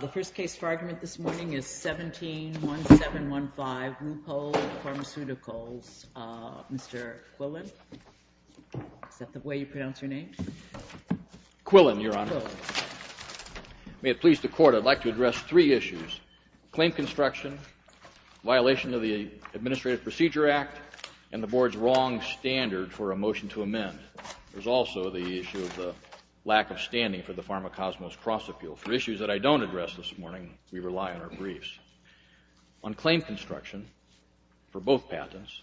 The first case for argument this morning is 17-1715 Luitpold Pharmaceuticals, Mr. Quillen. Is that the way you pronounce your name? Quillen, Your Honor. May it please the Court, I'd like to address three issues. Claim construction, violation of the Administrative Procedure Act, and the Board's wrong standard for a motion to amend. There's also the issue of the lack of standing for the Pharmacosmos cross-appeal. For issues that I don't address this morning, we rely on our briefs. On claim construction, for both patents,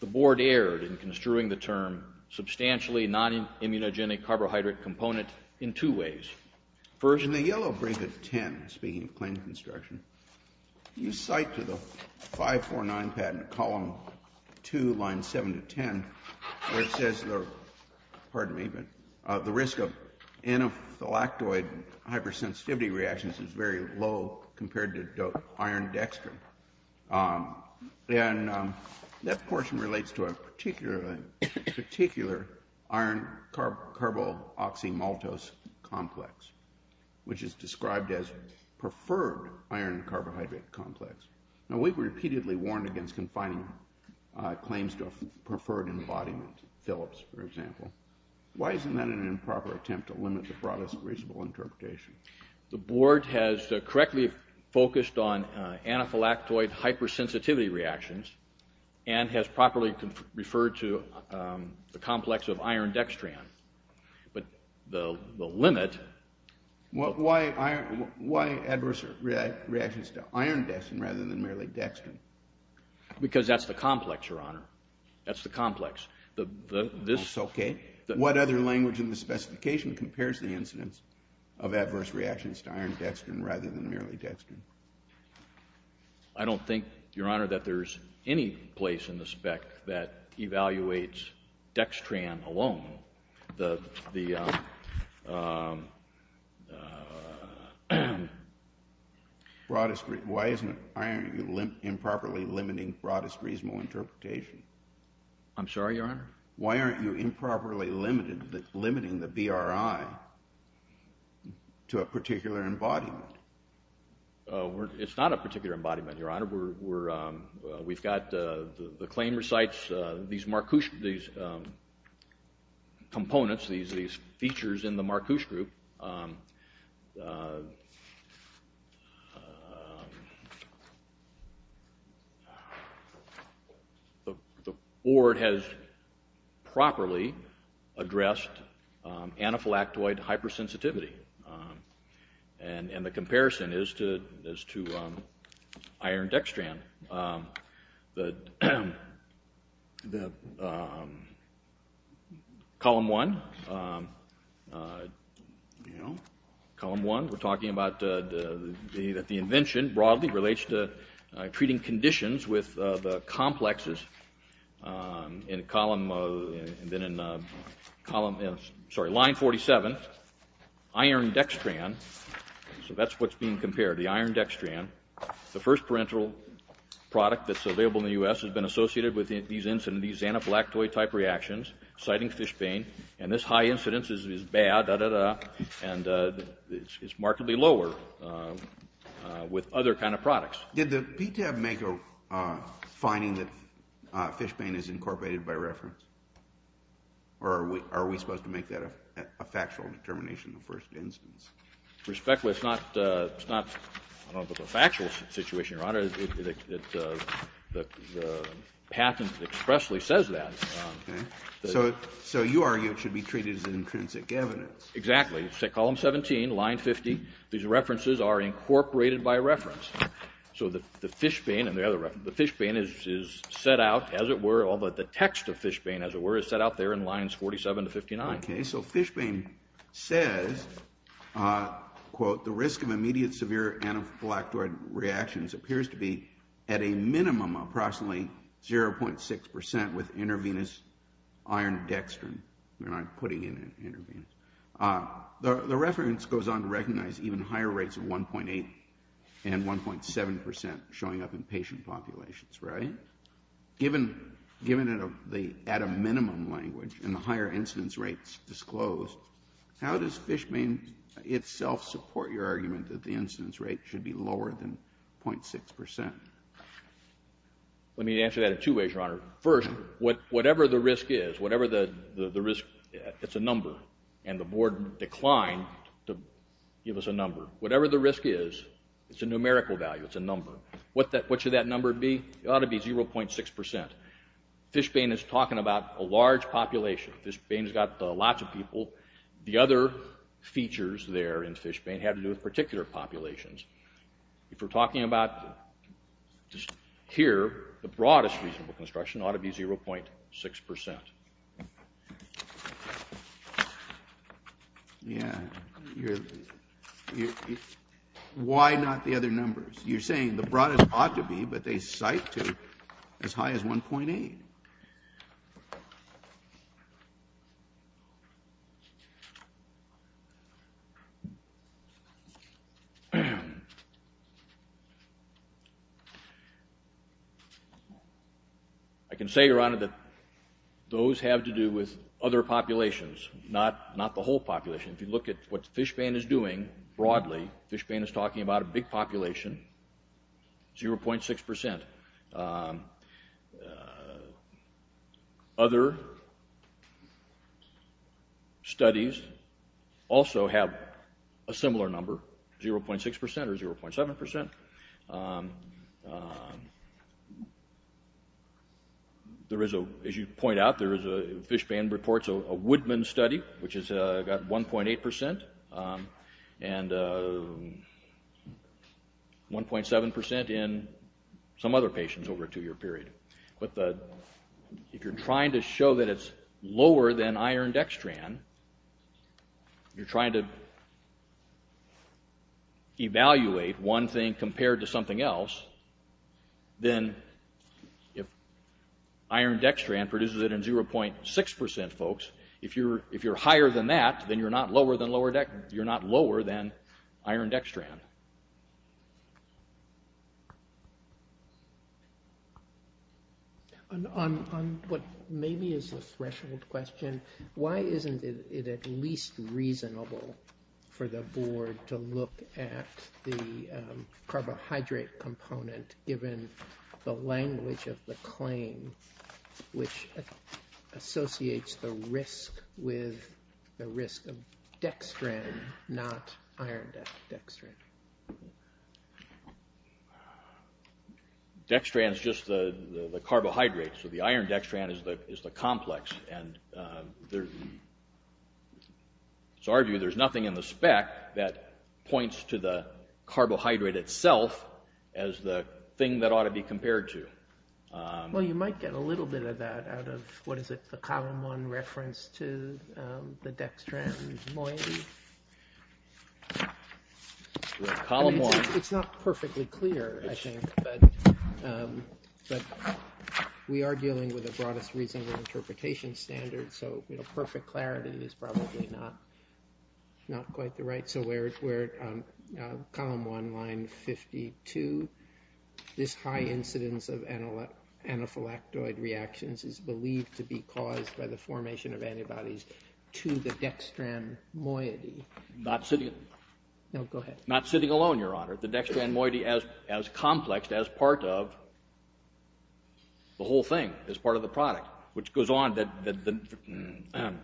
the Board erred in construing the term substantially non-immunogenic carbohydrate component in two ways. Version of the yellow brief of 10, speaking of claim construction, you cite to the 549 patent, column 2, line 7 to 10, where it says the risk of anaphylactoid hypersensitivity reactions is very low compared to iron dextrin. And that portion relates to a particular iron carboxymaltose complex, which is described as preferred iron carbohydrate complex. Now, we've repeatedly warned against confining claims to a preferred embodiment, Philips, for example. Why isn't that an improper attempt to limit the broadest reasonable interpretation? The Board has correctly focused on anaphylactoid hypersensitivity reactions and has properly referred to the complex of iron dextrin. But the limit... Why adverse reactions to iron dextrin rather than merely dextrin? Because that's the complex, Your Honor. That's the complex. Okay. What other language in the specification compares the incidence of adverse reactions to iron dextrin rather than merely dextrin? I don't think, Your Honor, that there's any place in the spec that evaluates dextrin alone. Why isn't iron improperly limiting broadest reasonable interpretation? I'm sorry, Your Honor? Why aren't you improperly limiting the BRI to a particular embodiment? It's not a particular embodiment, Your Honor. We've got the claim recites these components, these features in the Marcuse group. The Board has properly addressed anaphylactoid hypersensitivity and the comparison is to iron dextrin. Column one, we're talking about that the invention broadly relates to treating conditions with the complexes. In column... sorry, line 47, iron dextrin, so that's what's being compared, the iron dextrin, the first parental product that's available in the U.S. has been associated with these anaphylactoid-type reactions, citing fish pain, and this high incidence is bad, da-da-da, and it's markedly lower with other kind of products. Did the PTAB make a finding that fish pain is incorporated by reference, or are we supposed to make that a factual determination in the first instance? Respectfully, it's not a factual situation, Your Honor. The patent expressly says that. Okay. So you argue it should be treated as intrinsic evidence. Exactly. Column 17, line 50, these references are incorporated by reference. So the fish pain is set out, as it were, although the text of fish pain, as it were, is set out there in lines 47 to 59. Okay, so fish pain says, quote, the risk of immediate severe anaphylactoid reactions appears to be at a minimum approximately 0.6% with intravenous iron dextrin. We're not putting in intravenous. The reference goes on to recognize even higher rates of 1.8 and 1.7% showing up in patient populations, right? Given the at a minimum language and the higher incidence rates disclosed, how does fish pain itself support your argument that the incidence rate should be lower than 0.6%? Let me answer that in two ways, Your Honor. First, whatever the risk is, whatever the risk, it's a number, and the board declined to give us a number. Whatever the risk is, it's a numerical value. It's a number. What should that number be? It ought to be 0.6%. Fish pain is talking about a large population. Fish pain's got lots of people. The other features there in fish pain have to do with particular populations. If we're talking about just here, the broadest reasonable construction ought to be 0.6%. Yeah, you're... Why not the other numbers? You're saying the broadest ought to be, but they cite to as high as 1.8. I can say, Your Honor, that those have to do with other populations, not the whole population. If you look at what fish pain is doing broadly, fish pain is talking about a big population, 0.6%. Other studies also have a similar number, 0.6% or 0.7%. As you point out, Fish Pain reports a Woodman study, which has got 1.8%, and 1.7% in some other patients over a two-year period. If you're trying to show that it's lower than iron dextran, you're trying to evaluate one thing compared to something else, then if iron dextran produces it in 0.6%, folks, if you're higher than that, then you're not lower than iron dextran. Your Honor. On what maybe is a threshold question, why isn't it at least reasonable for the Board to look at the carbohydrate component, given the language of the claim, which associates the risk with the risk of dextran, not iron dextran? Dextran is just the carbohydrate, so the iron dextran is the complex. In our view, there's nothing in the spec that points to the carbohydrate itself as the thing that ought to be compared to. Well, you might get a little bit of that out of, what is it, the Column 1 reference to the dextran moiety? It's not perfectly clear, I think, but we are dealing with a broadest reasonable interpretation standard, so perfect clarity is probably not quite the right. So where Column 1, Line 52, this high incidence of anaphylactoid reactions is believed to be caused by the formation of antibodies to the dextran moiety. Not sitting alone, Your Honor. The dextran moiety as complex as part of the whole thing, as part of the product. Which goes on, the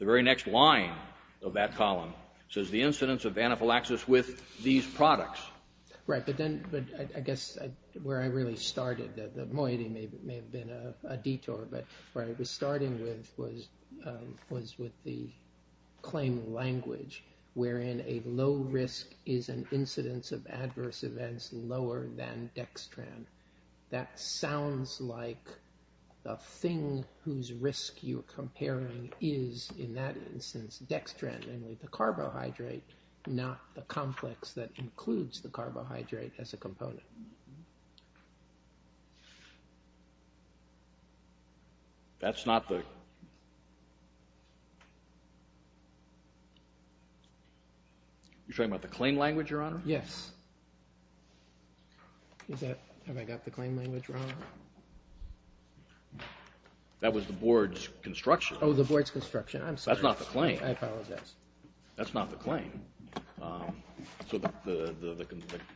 very next line of that column, says the incidence of anaphylaxis with these products. Right, but I guess where I really started, the moiety may have been a detour, but where I was starting with was with the claim language, wherein a low risk is an incidence of adverse events lower than dextran. That sounds like the thing whose risk you're comparing is, in that instance, dextran, namely the carbohydrate, not the complex that includes the carbohydrate as a component. That's not the... You're talking about the claim language, Your Honor? Yes. Have I got the claim language wrong? That was the board's construction. Oh, the board's construction. I'm sorry. That's not the claim. I apologize. That's not the claim. So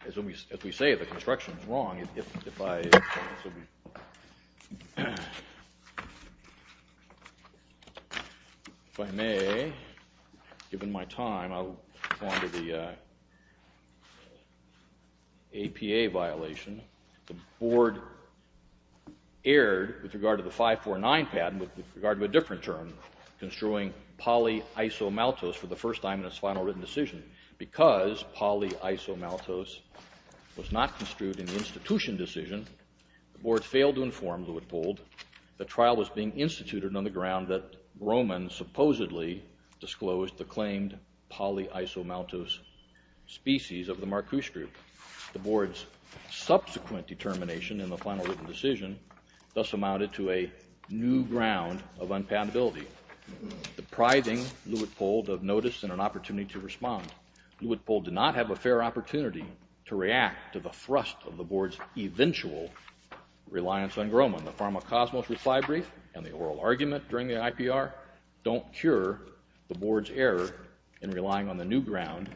as we say, the construction is wrong. If I may, given my time, I'll go on to the APA violation. The board erred with regard to the 549 patent with regard to a different term, construing polyisomaltose for the first time in its final written decision. Because polyisomaltose was not construed in the institution decision, the board failed to inform Lewitt Gould that trial was being instituted on the ground that Roman supposedly disclosed the claimed polyisomaltose species of the Marcuse group. The board's subsequent determination in the final written decision thus amounted to a new ground of unpatentability, depriving Lewitt Gould of notice and an opportunity to respond. Lewitt Gould did not have a fair opportunity to react to the thrust of the board's eventual reliance on Groman. The pharmacosmos reply brief and the oral argument during the IPR don't cure the board's error in relying on the new ground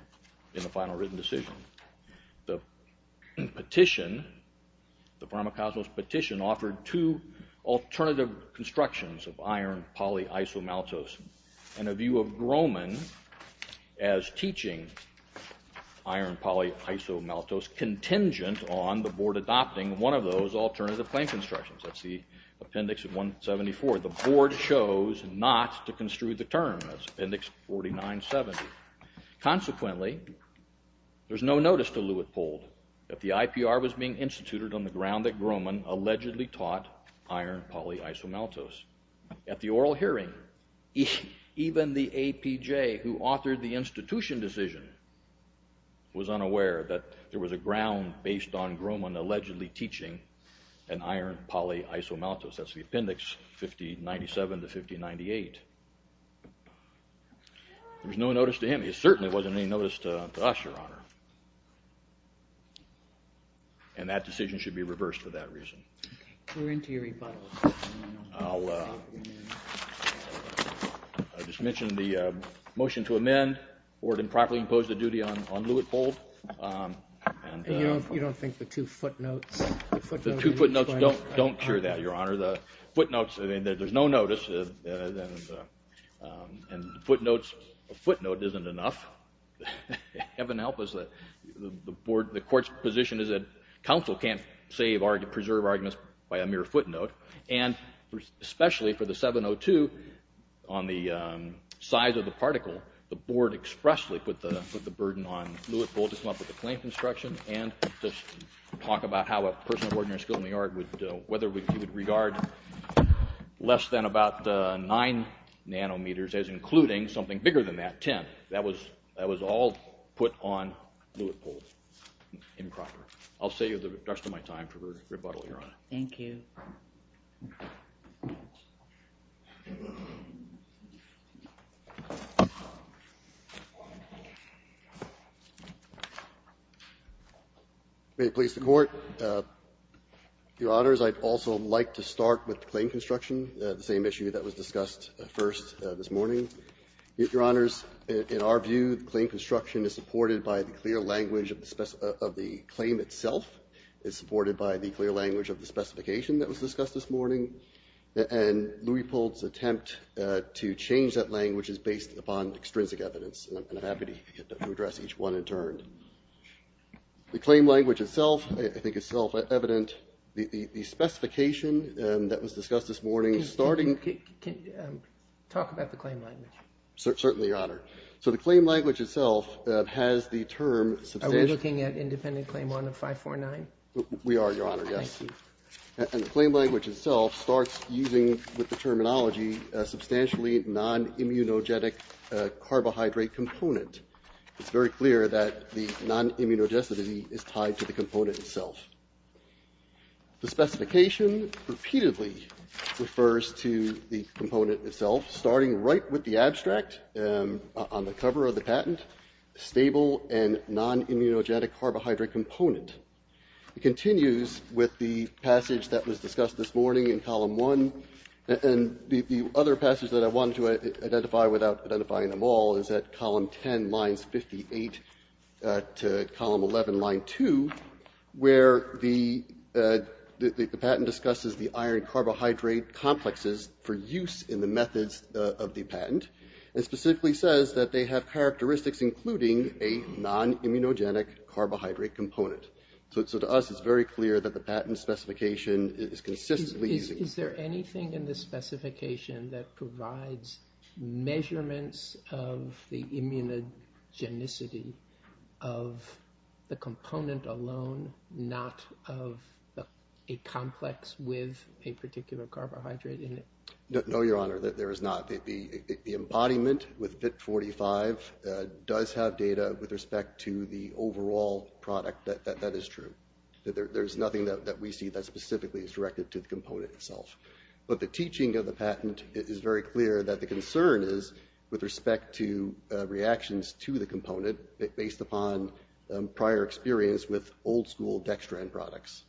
in the final written decision. The petition, the pharmacosmos petition, offered two alternative constructions of iron polyisomaltose and a view of Groman as teaching iron polyisomaltose contingent on the board adopting one of those alternative claim constructions. That's the appendix of 174. The board chose not to construe the term. That's appendix 4970. Consequently, there's no notice to Lewitt Gould that the IPR was being instituted on the ground that Groman allegedly taught iron polyisomaltose. At the oral hearing, even the APJ who authored the institution decision was unaware that there was a ground based on Groman allegedly teaching an iron polyisomaltose. That's the appendix 5097 to 5098. There's no notice to him. There certainly wasn't any notice to us, Your Honor. And that decision should be reversed for that reason. We're into your rebuttal. I'll just mention the motion to amend. The board improperly imposed a duty on Lewitt Gould. You don't think the two footnotes... The two footnotes don't cure that, Your Honor. The footnotes, there's no notice. And footnotes, a footnote isn't enough. Heaven help us, the court's position is that counsel can't preserve arguments by a mere footnote. And especially for the 702 on the size of the particle, the board expressly put the burden on Lewitt Gould to come up with a claim construction and just talk about how a person of ordinary skill in the art would, whether he would regard less than about 9 nanometers as including something bigger than that, 10. That was all put on Lewitt Gould improperly. I'll save the rest of my time for rebuttal, Your Honor. Thank you. May it please the Court. Your Honors, I'd also like to start with the claim construction, the same issue that was discussed first this morning. Your Honors, in our view, the claim construction is supported by the clear language of the claim itself. It's supported by the clear language of the specification that was discussed this morning. And Lewitt Gould's attempt to change that language is based upon extrinsic evidence. And I'm happy to address each one in turn. The claim language itself, I think, is self-evident. The specification that was discussed this morning, starting... Talk about the claim language. Certainly, Your Honor. So the claim language itself has the term... Are we looking at independent claim 1 of 549? We are, Your Honor, yes. Thank you. And the claim language itself starts using, with the terminology, a substantially non-immunogenic carbohydrate component. It's very clear that the non-immunogenicity is tied to the component itself. The specification repeatedly refers to the component itself, starting right with the abstract on the cover of the patent, stable and non-immunogenic carbohydrate component. It continues with the passage that was discussed this morning in column 1. And the other passage that I wanted to identify without identifying them all is at column 10, lines 58 to column 11, line 2, where the patent discusses the iron-carbohydrate complexes for use in the methods of the patent. It specifically says that they have characteristics including a non-immunogenic carbohydrate component. So to us, it's very clear that the patent specification is consistently using... Is there anything in the specification that provides measurements of the immunogenicity of the component alone, not of a complex with a particular carbohydrate in it? No, Your Honor, there is not. The embodiment with PIT45 does have data with respect to the overall product. That is true. There's nothing that we see that specifically is directed to the component itself. But the teaching of the patent is very clear that the concern is with respect to reactions to the component based upon prior experience with old-school dextran products.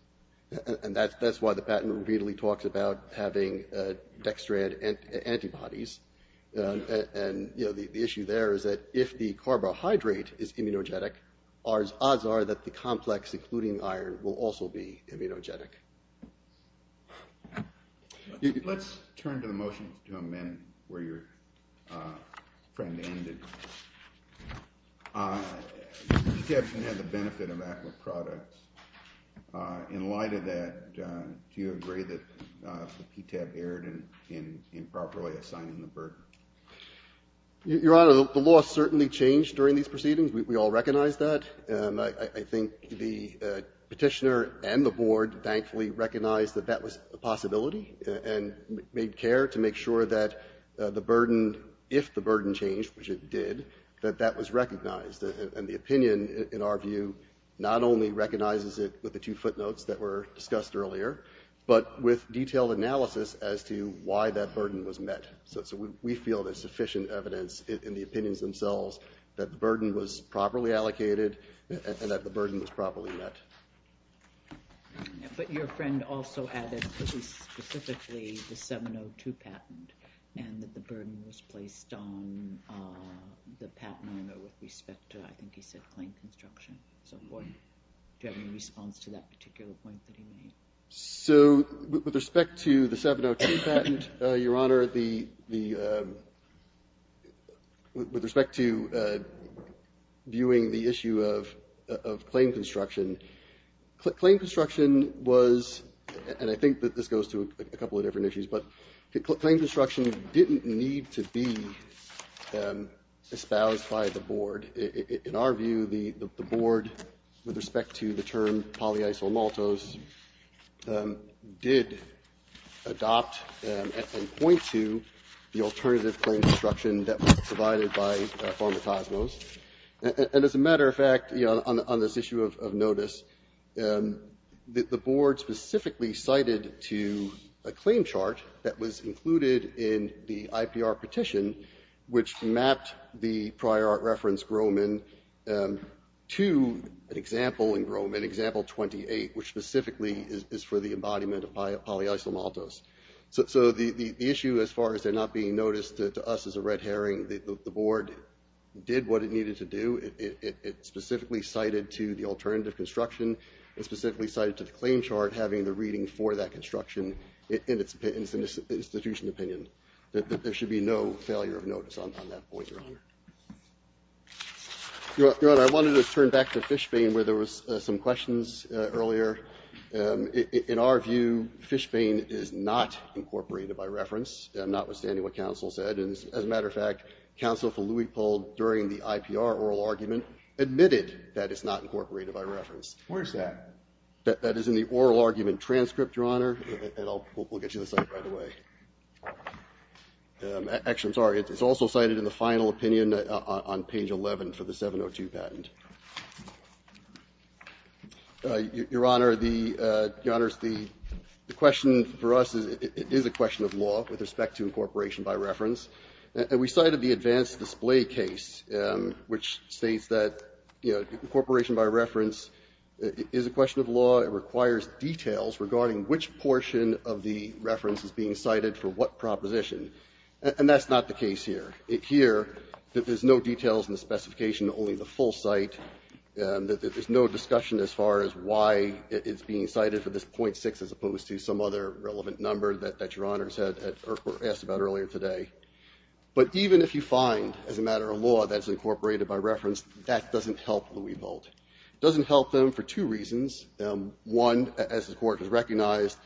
And that's why the patent repeatedly talks about having dextran antibodies. And, you know, the issue there is that if the carbohydrate is immunogenic, odds are that the complex, including iron, will also be immunogenic. Let's turn to the motion to amend where your friend ended. PTAB can have the benefit of aqua products. In light of that, do you agree that the PTAB erred in improperly assigning the burden? Your Honor, the law certainly changed during these proceedings. We all recognize that. I think the petitioner and the board thankfully recognized that that was a possibility and made care to make sure that the burden, if the burden changed, which it did, that that was recognized. And the opinion, in our view, not only recognizes it with the two footnotes that were discussed earlier, but with detailed analysis as to why that burden was met. So we feel there's sufficient evidence in the opinions themselves that the burden was properly allocated and that the burden was properly met. But your friend also added pretty specifically the 702 patent and that the burden was placed on the patent owner with respect to, I think he said, claim construction and so forth. Do you have any response to that particular point that he made? So with respect to the 702 patent, your Honor, with respect to viewing the issue of claim construction, claim construction was, and I think that this goes to a couple of different issues, but claim construction didn't need to be espoused by the board. In our view, the board, with respect to the term polyisomaltose, did adopt and point to the alternative claim construction that was provided by Pharmacosmos. And as a matter of fact, you know, on this issue of notice, the board specifically cited to a claim chart that was included in the IPR petition which mapped the prior art reference Groman to an example in Groman, example 28, which specifically is for the embodiment of polyisomaltose. So the issue as far as it not being noticed to us as a red herring, the board did what it needed to do. It specifically cited to the alternative construction. It specifically cited to the claim chart having the reading for that construction in its institution opinion that there should be no failure of notice on that point, your Honor. Your Honor, I wanted to turn back to Fishbane where there was some questions earlier. In our view, Fishbane is not incorporated by reference, notwithstanding what counsel said. And as a matter of fact, counsel for Louis pulled during the IPR oral argument, admitted that it's not incorporated by reference. Where's that? That is in the oral argument transcript, your Honor. And we'll get you the site right away. Actually, I'm sorry. It's also cited in the final opinion on page 11 for the 702 patent. Your Honor, the question for us is it is a question of law with respect to incorporation by reference. And we cited the advanced display case which states that, you know, incorporation by reference is a question of law. It requires details regarding which portion of the reference is being cited for what proposition. And that's not the case here. Here, there's no details in the specification, only the full site. There's no discussion as far as why it's being cited for this .6 as opposed to some other relevant number that your Honor asked about earlier today. But even if you find, as a matter of law, that it's incorporated by reference, that doesn't help Louis Bolt. It doesn't help them for two reasons. One, as the Court has recognized,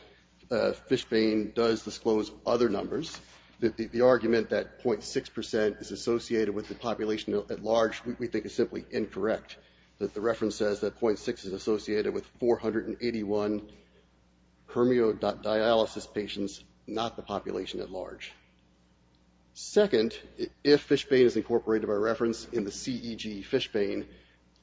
Fishbane does disclose other numbers. The argument that .6 percent is associated with the population at large we think is simply incorrect. The reference says that .6 is associated with 481 hermio dialysis patients, not the population at large. Second, if Fishbane is incorporated by reference in the CEG Fishbane,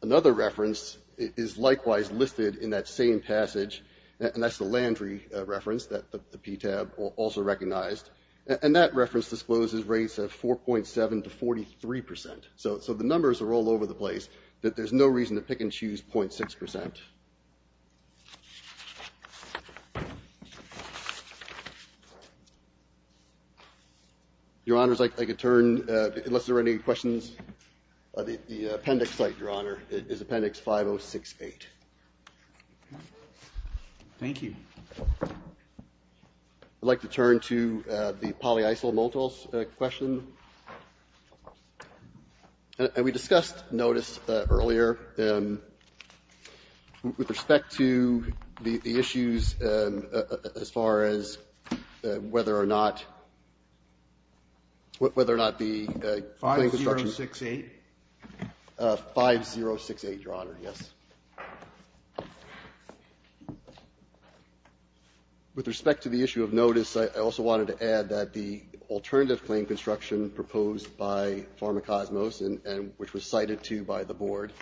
another reference is likewise listed in that same passage. And that's the Landry reference that the PTAB also recognized. And that reference discloses rates of 4.7 to 43 percent. So the numbers are all over the place. There's no reason to pick and choose .6 percent. Your Honors, I could turn, unless there are any questions. The appendix site, Your Honor, is appendix 5068. Thank you. I'd like to turn to the polyisomaltose question. And we discussed notice earlier. With respect to the issues as far as whether or not, whether or not the claim construction 5068. 5068, Your Honor, yes. With respect to the issue of notice, I also wanted to add that the alternative claim construction proposed by Pharmacosmos, and which was cited too by the board,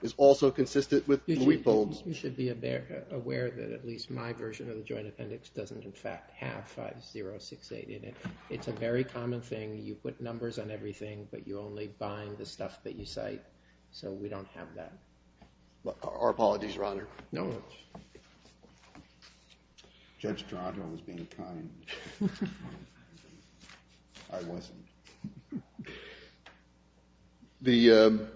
is also consistent with Louis-Bowles. You should be aware that at least my version of the joint appendix doesn't in fact have 5068 in it. It's a very common thing. You put numbers on everything, but you only bind the stuff that you cite. So we don't have that. Our apologies, Your Honor. No. Judge Toronto was being kind. I wasn't. The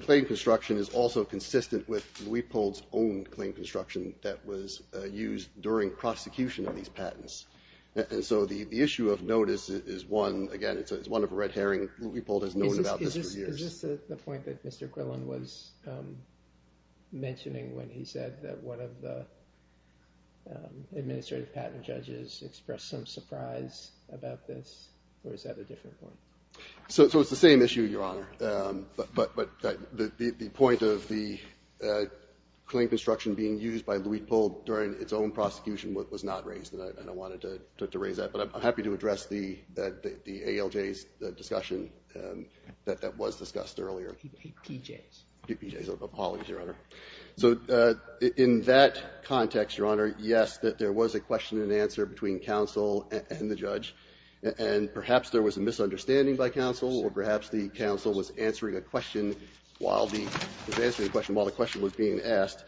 claim construction is also consistent with Louis-Bowles' own claim construction that was used during prosecution of these patents. And so the issue of notice is one, again, it's one of a red herring. Is this the point that Mr. Quillen was mentioning when he said that one of the administrative patent judges expressed some surprise about this? Or is that a different point? So it's the same issue, Your Honor. But the point of the claim construction being used by Louis-Bowles during its own prosecution was not raised, and I wanted to raise that. But I'm happy to address the ALJ's discussion that was discussed earlier. P.J.'s. P.J.'s. Apologies, Your Honor. So in that context, Your Honor, yes, there was a question and answer between counsel and the judge. And perhaps there was a misunderstanding by counsel, or perhaps the counsel was answering a question while the question was being asked.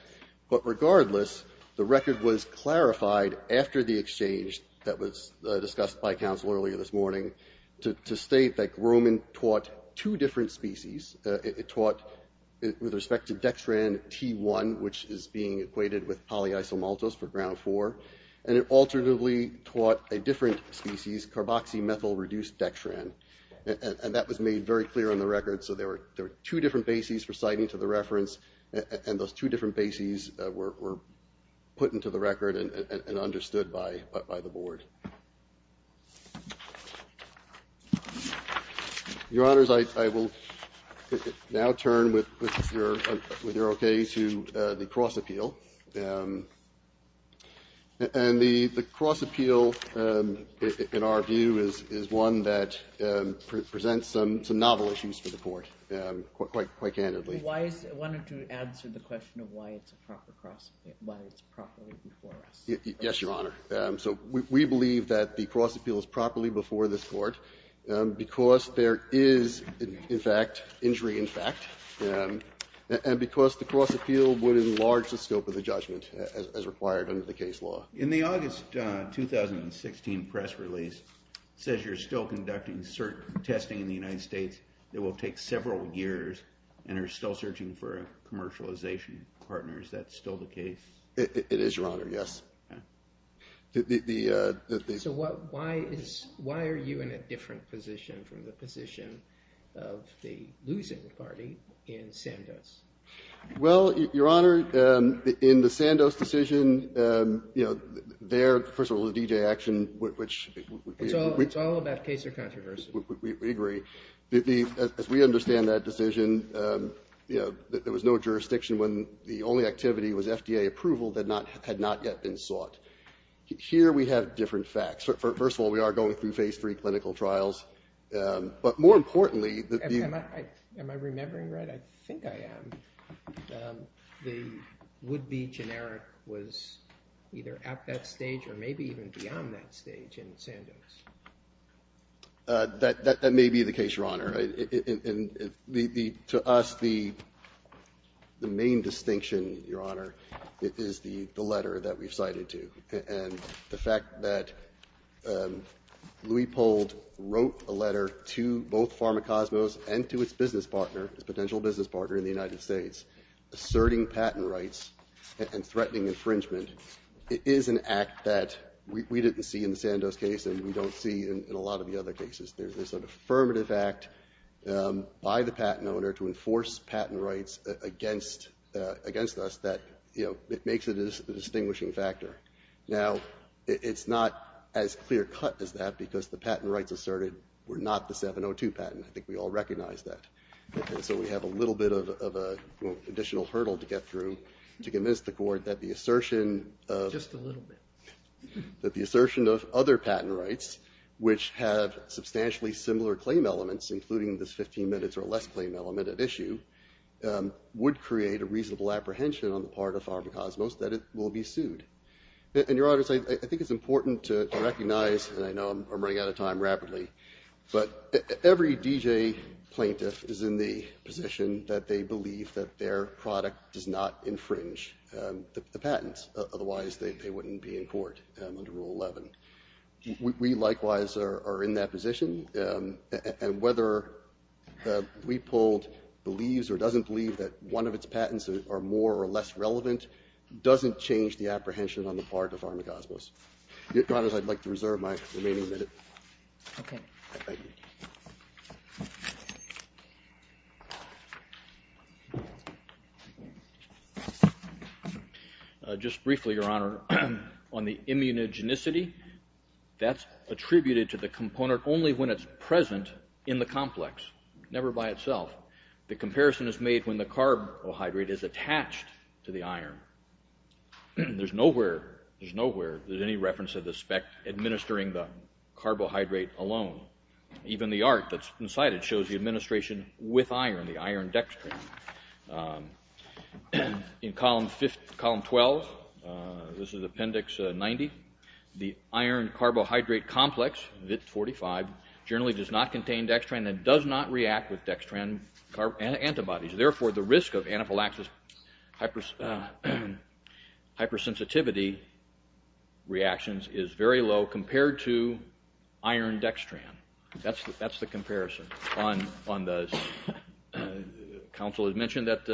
But regardless, the record was clarified after the exchange that was discussed by counsel earlier this morning to state that Grumman taught two different species. It taught with respect to dextran T1, which is being equated with polyisomaltose for ground 4. And it alternatively taught a different species, carboxymethyl reduced dextran. And that was made very clear on the record. So there were two different bases for citing to the reference, and those two different bases were put into the record and understood by the board. Your Honors, I will now turn, with your okay, to the cross appeal. And the cross appeal, in our view, is one that presents some novel issues for the court, quite candidly. Why is it? I wanted to answer the question of why it's a proper cross appeal, why it's properly before us. Yes, Your Honor. So we believe that the cross appeal is properly before this court because there is, in fact, injury in fact. And because the cross appeal would enlarge the scope of the judgment as required under the case law. In the August 2016 press release, it says you're still conducting testing in the United States that will take several years and are still searching for commercialization partners. Is that still the case? It is, Your Honor, yes. So why are you in a different position from the position of the losing party in Sandoz? Well, Your Honor, in the Sandoz decision, their, first of all, the DJ action, which It's all about case or controversy. We agree. As we understand that decision, there was no jurisdiction when the only activity was Here we have different facts. First of all, we are going through phase three clinical trials. But more importantly. Am I remembering right? I think I am. The would be generic was either at that stage or maybe even beyond that stage in Sandoz. That may be the case, Your Honor. To us, the main distinction, Your Honor, is the letter that we've cited to. And the fact that we pulled wrote a letter to both Pharma Cosmos and to its business partner, its potential business partner in the United States, asserting patent rights and threatening infringement. It is an act that we didn't see in the Sandoz case and we don't see in a lot of the other cases. There's an affirmative act by the patent owner to enforce patent rights against us that makes it a distinguishing factor. Now, it's not as clear cut as that because the patent rights asserted were not the 702 patent. I think we all recognize that. So we have a little bit of an additional hurdle to get through to convince the court that the assertion of. Just a little bit. That the assertion of other patent rights, which have substantially similar claim elements, including this 15 minutes or less claim element at issue, would create a reasonable apprehension on the part of Pharma Cosmos that it will be sued. And, Your Honors, I think it's important to recognize, and I know I'm running out of time rapidly, but every DJ plaintiff is in the position that they believe that their product does not infringe the patents. Otherwise, they wouldn't be in court under Rule 11. We, likewise, are in that position. And whether we pulled believes or doesn't believe that one of its patents are more or less relevant doesn't change the apprehension on the part of Pharma Cosmos. Your Honors, I'd like to reserve my remaining minute. Okay. Thank you. Just briefly, Your Honor, on the immunogenicity, that's attributed to the component only when it's present in the complex, never by itself. The comparison is made when the carbohydrate is attached to the iron. There's nowhere, there's nowhere, there's any reference to the spec administering the Even the art that's inside it shows the administration with iron, the iron dextran. In Column 12, this is Appendix 90, the iron carbohydrate complex, VIT-45, generally does not contain dextran and does not react with dextran antibodies. Therefore, the risk of anaphylaxis hypersensitivity reactions is very low compared to iron dextran. That's the comparison on those. Counsel has mentioned that,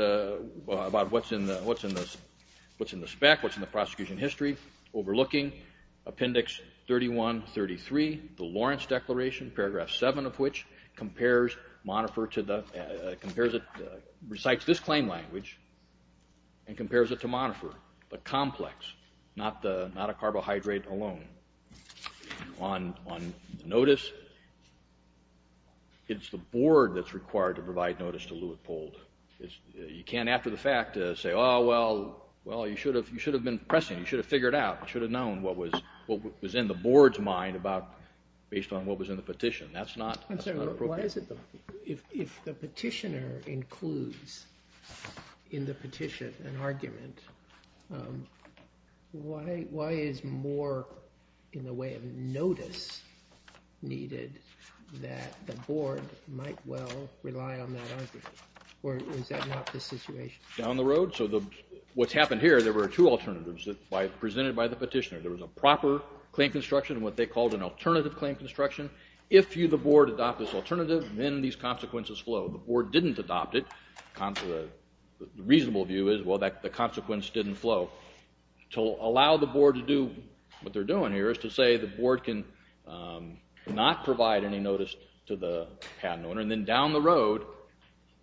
about what's in the spec, what's in the prosecution history, overlooking Appendix 31, 33, the Lawrence Declaration, Paragraph 7 of which compares monifer to the, compares it, recites this claim language and compares it to monifer, the complex, not a carbohydrate alone. On notice, it's the board that's required to provide notice to Lewitt-Pold. You can't, after the fact, say, oh, well, you should have been pressing, you should have figured out, you should have known what was in the board's mind based on what was in the petition. That's not appropriate. Why is it, if the petitioner includes in the petition an argument, why is more in the way of notice needed that the board might well rely on that argument? Or is that not the situation? Down the road, so what's happened here, there were two alternatives presented by the petitioner. There was a proper claim construction and what they called an alternative claim construction. If the board adopted this alternative, then these consequences flow. The board didn't adopt it. The reasonable view is, well, the consequence didn't flow. To allow the board to do what they're doing here is to say the board can not provide any notice to the patent owner and then down the road,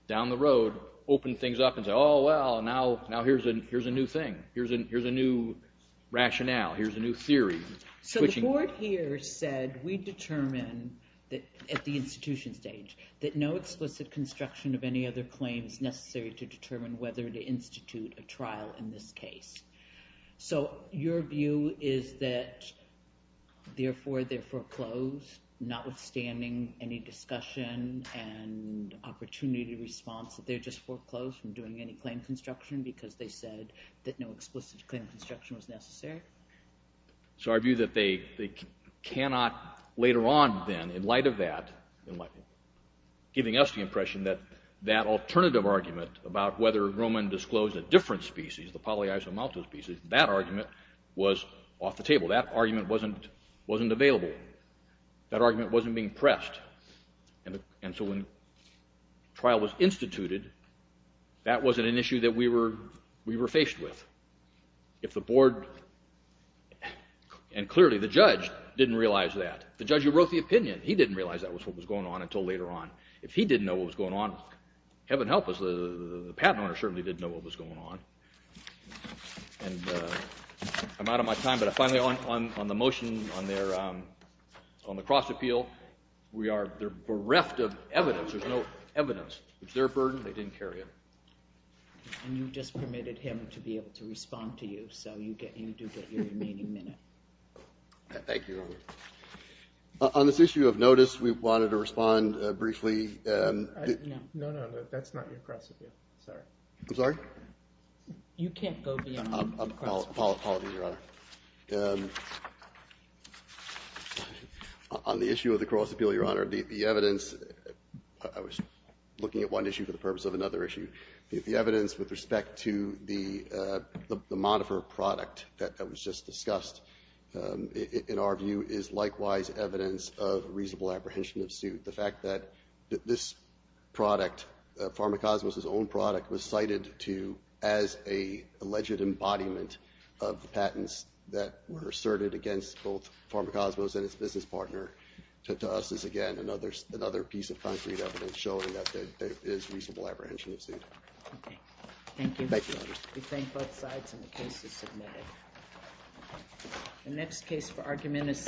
down the road, open things up and say, oh, well, now here's a new thing. Here's a new rationale. Here's a new theory. So the board here said we determine at the institution stage that no explicit construction of any other claims necessary to determine whether to institute a trial in this case. So your view is that therefore they're foreclosed, notwithstanding any discussion and opportunity response that they're just foreclosed from doing any claim construction because they said that no explicit claim construction was necessary? So our view that they cannot later on then, in light of that, giving us the impression that that alternative argument about whether Roman disclosed a different species, the polyisomaltose species, that argument was off the table. That argument wasn't available. That argument wasn't being pressed. And so when trial was instituted, that wasn't an issue that we were faced with. If the board, and clearly the judge didn't realize that. The judge who wrote the opinion, he didn't realize that was what was going on until later on. If he didn't know what was going on, heaven help us, the patent owner certainly didn't know what was going on. And I'm out of my time, but finally on the motion on the cross-appeal, we are bereft of evidence. There's no evidence. It's their burden. They didn't carry it. And you just permitted him to be able to respond to you. So you do get your remaining minute. Thank you. On this issue of notice, we wanted to respond briefly. No, no, no. That's not your cross-appeal. I'm sorry? You can't go beyond the cross-appeal. Apologies, Your Honor. On the issue of the cross-appeal, Your Honor, the evidence, I was looking at one issue for the purpose of another issue. The evidence with respect to the Modifer product that was just discussed, in our view, is likewise evidence of reasonable apprehension of suit. The fact that this product, Pharmacosmos' own product, was cited as an alleged embodiment of the patents that were asserted against both Pharmacosmos and its business partner to us is, again, another piece of concrete evidence showing that there is reasonable apprehension of suit. Thank you. Thank you, Your Honor. We thank both sides, and the case is submitted.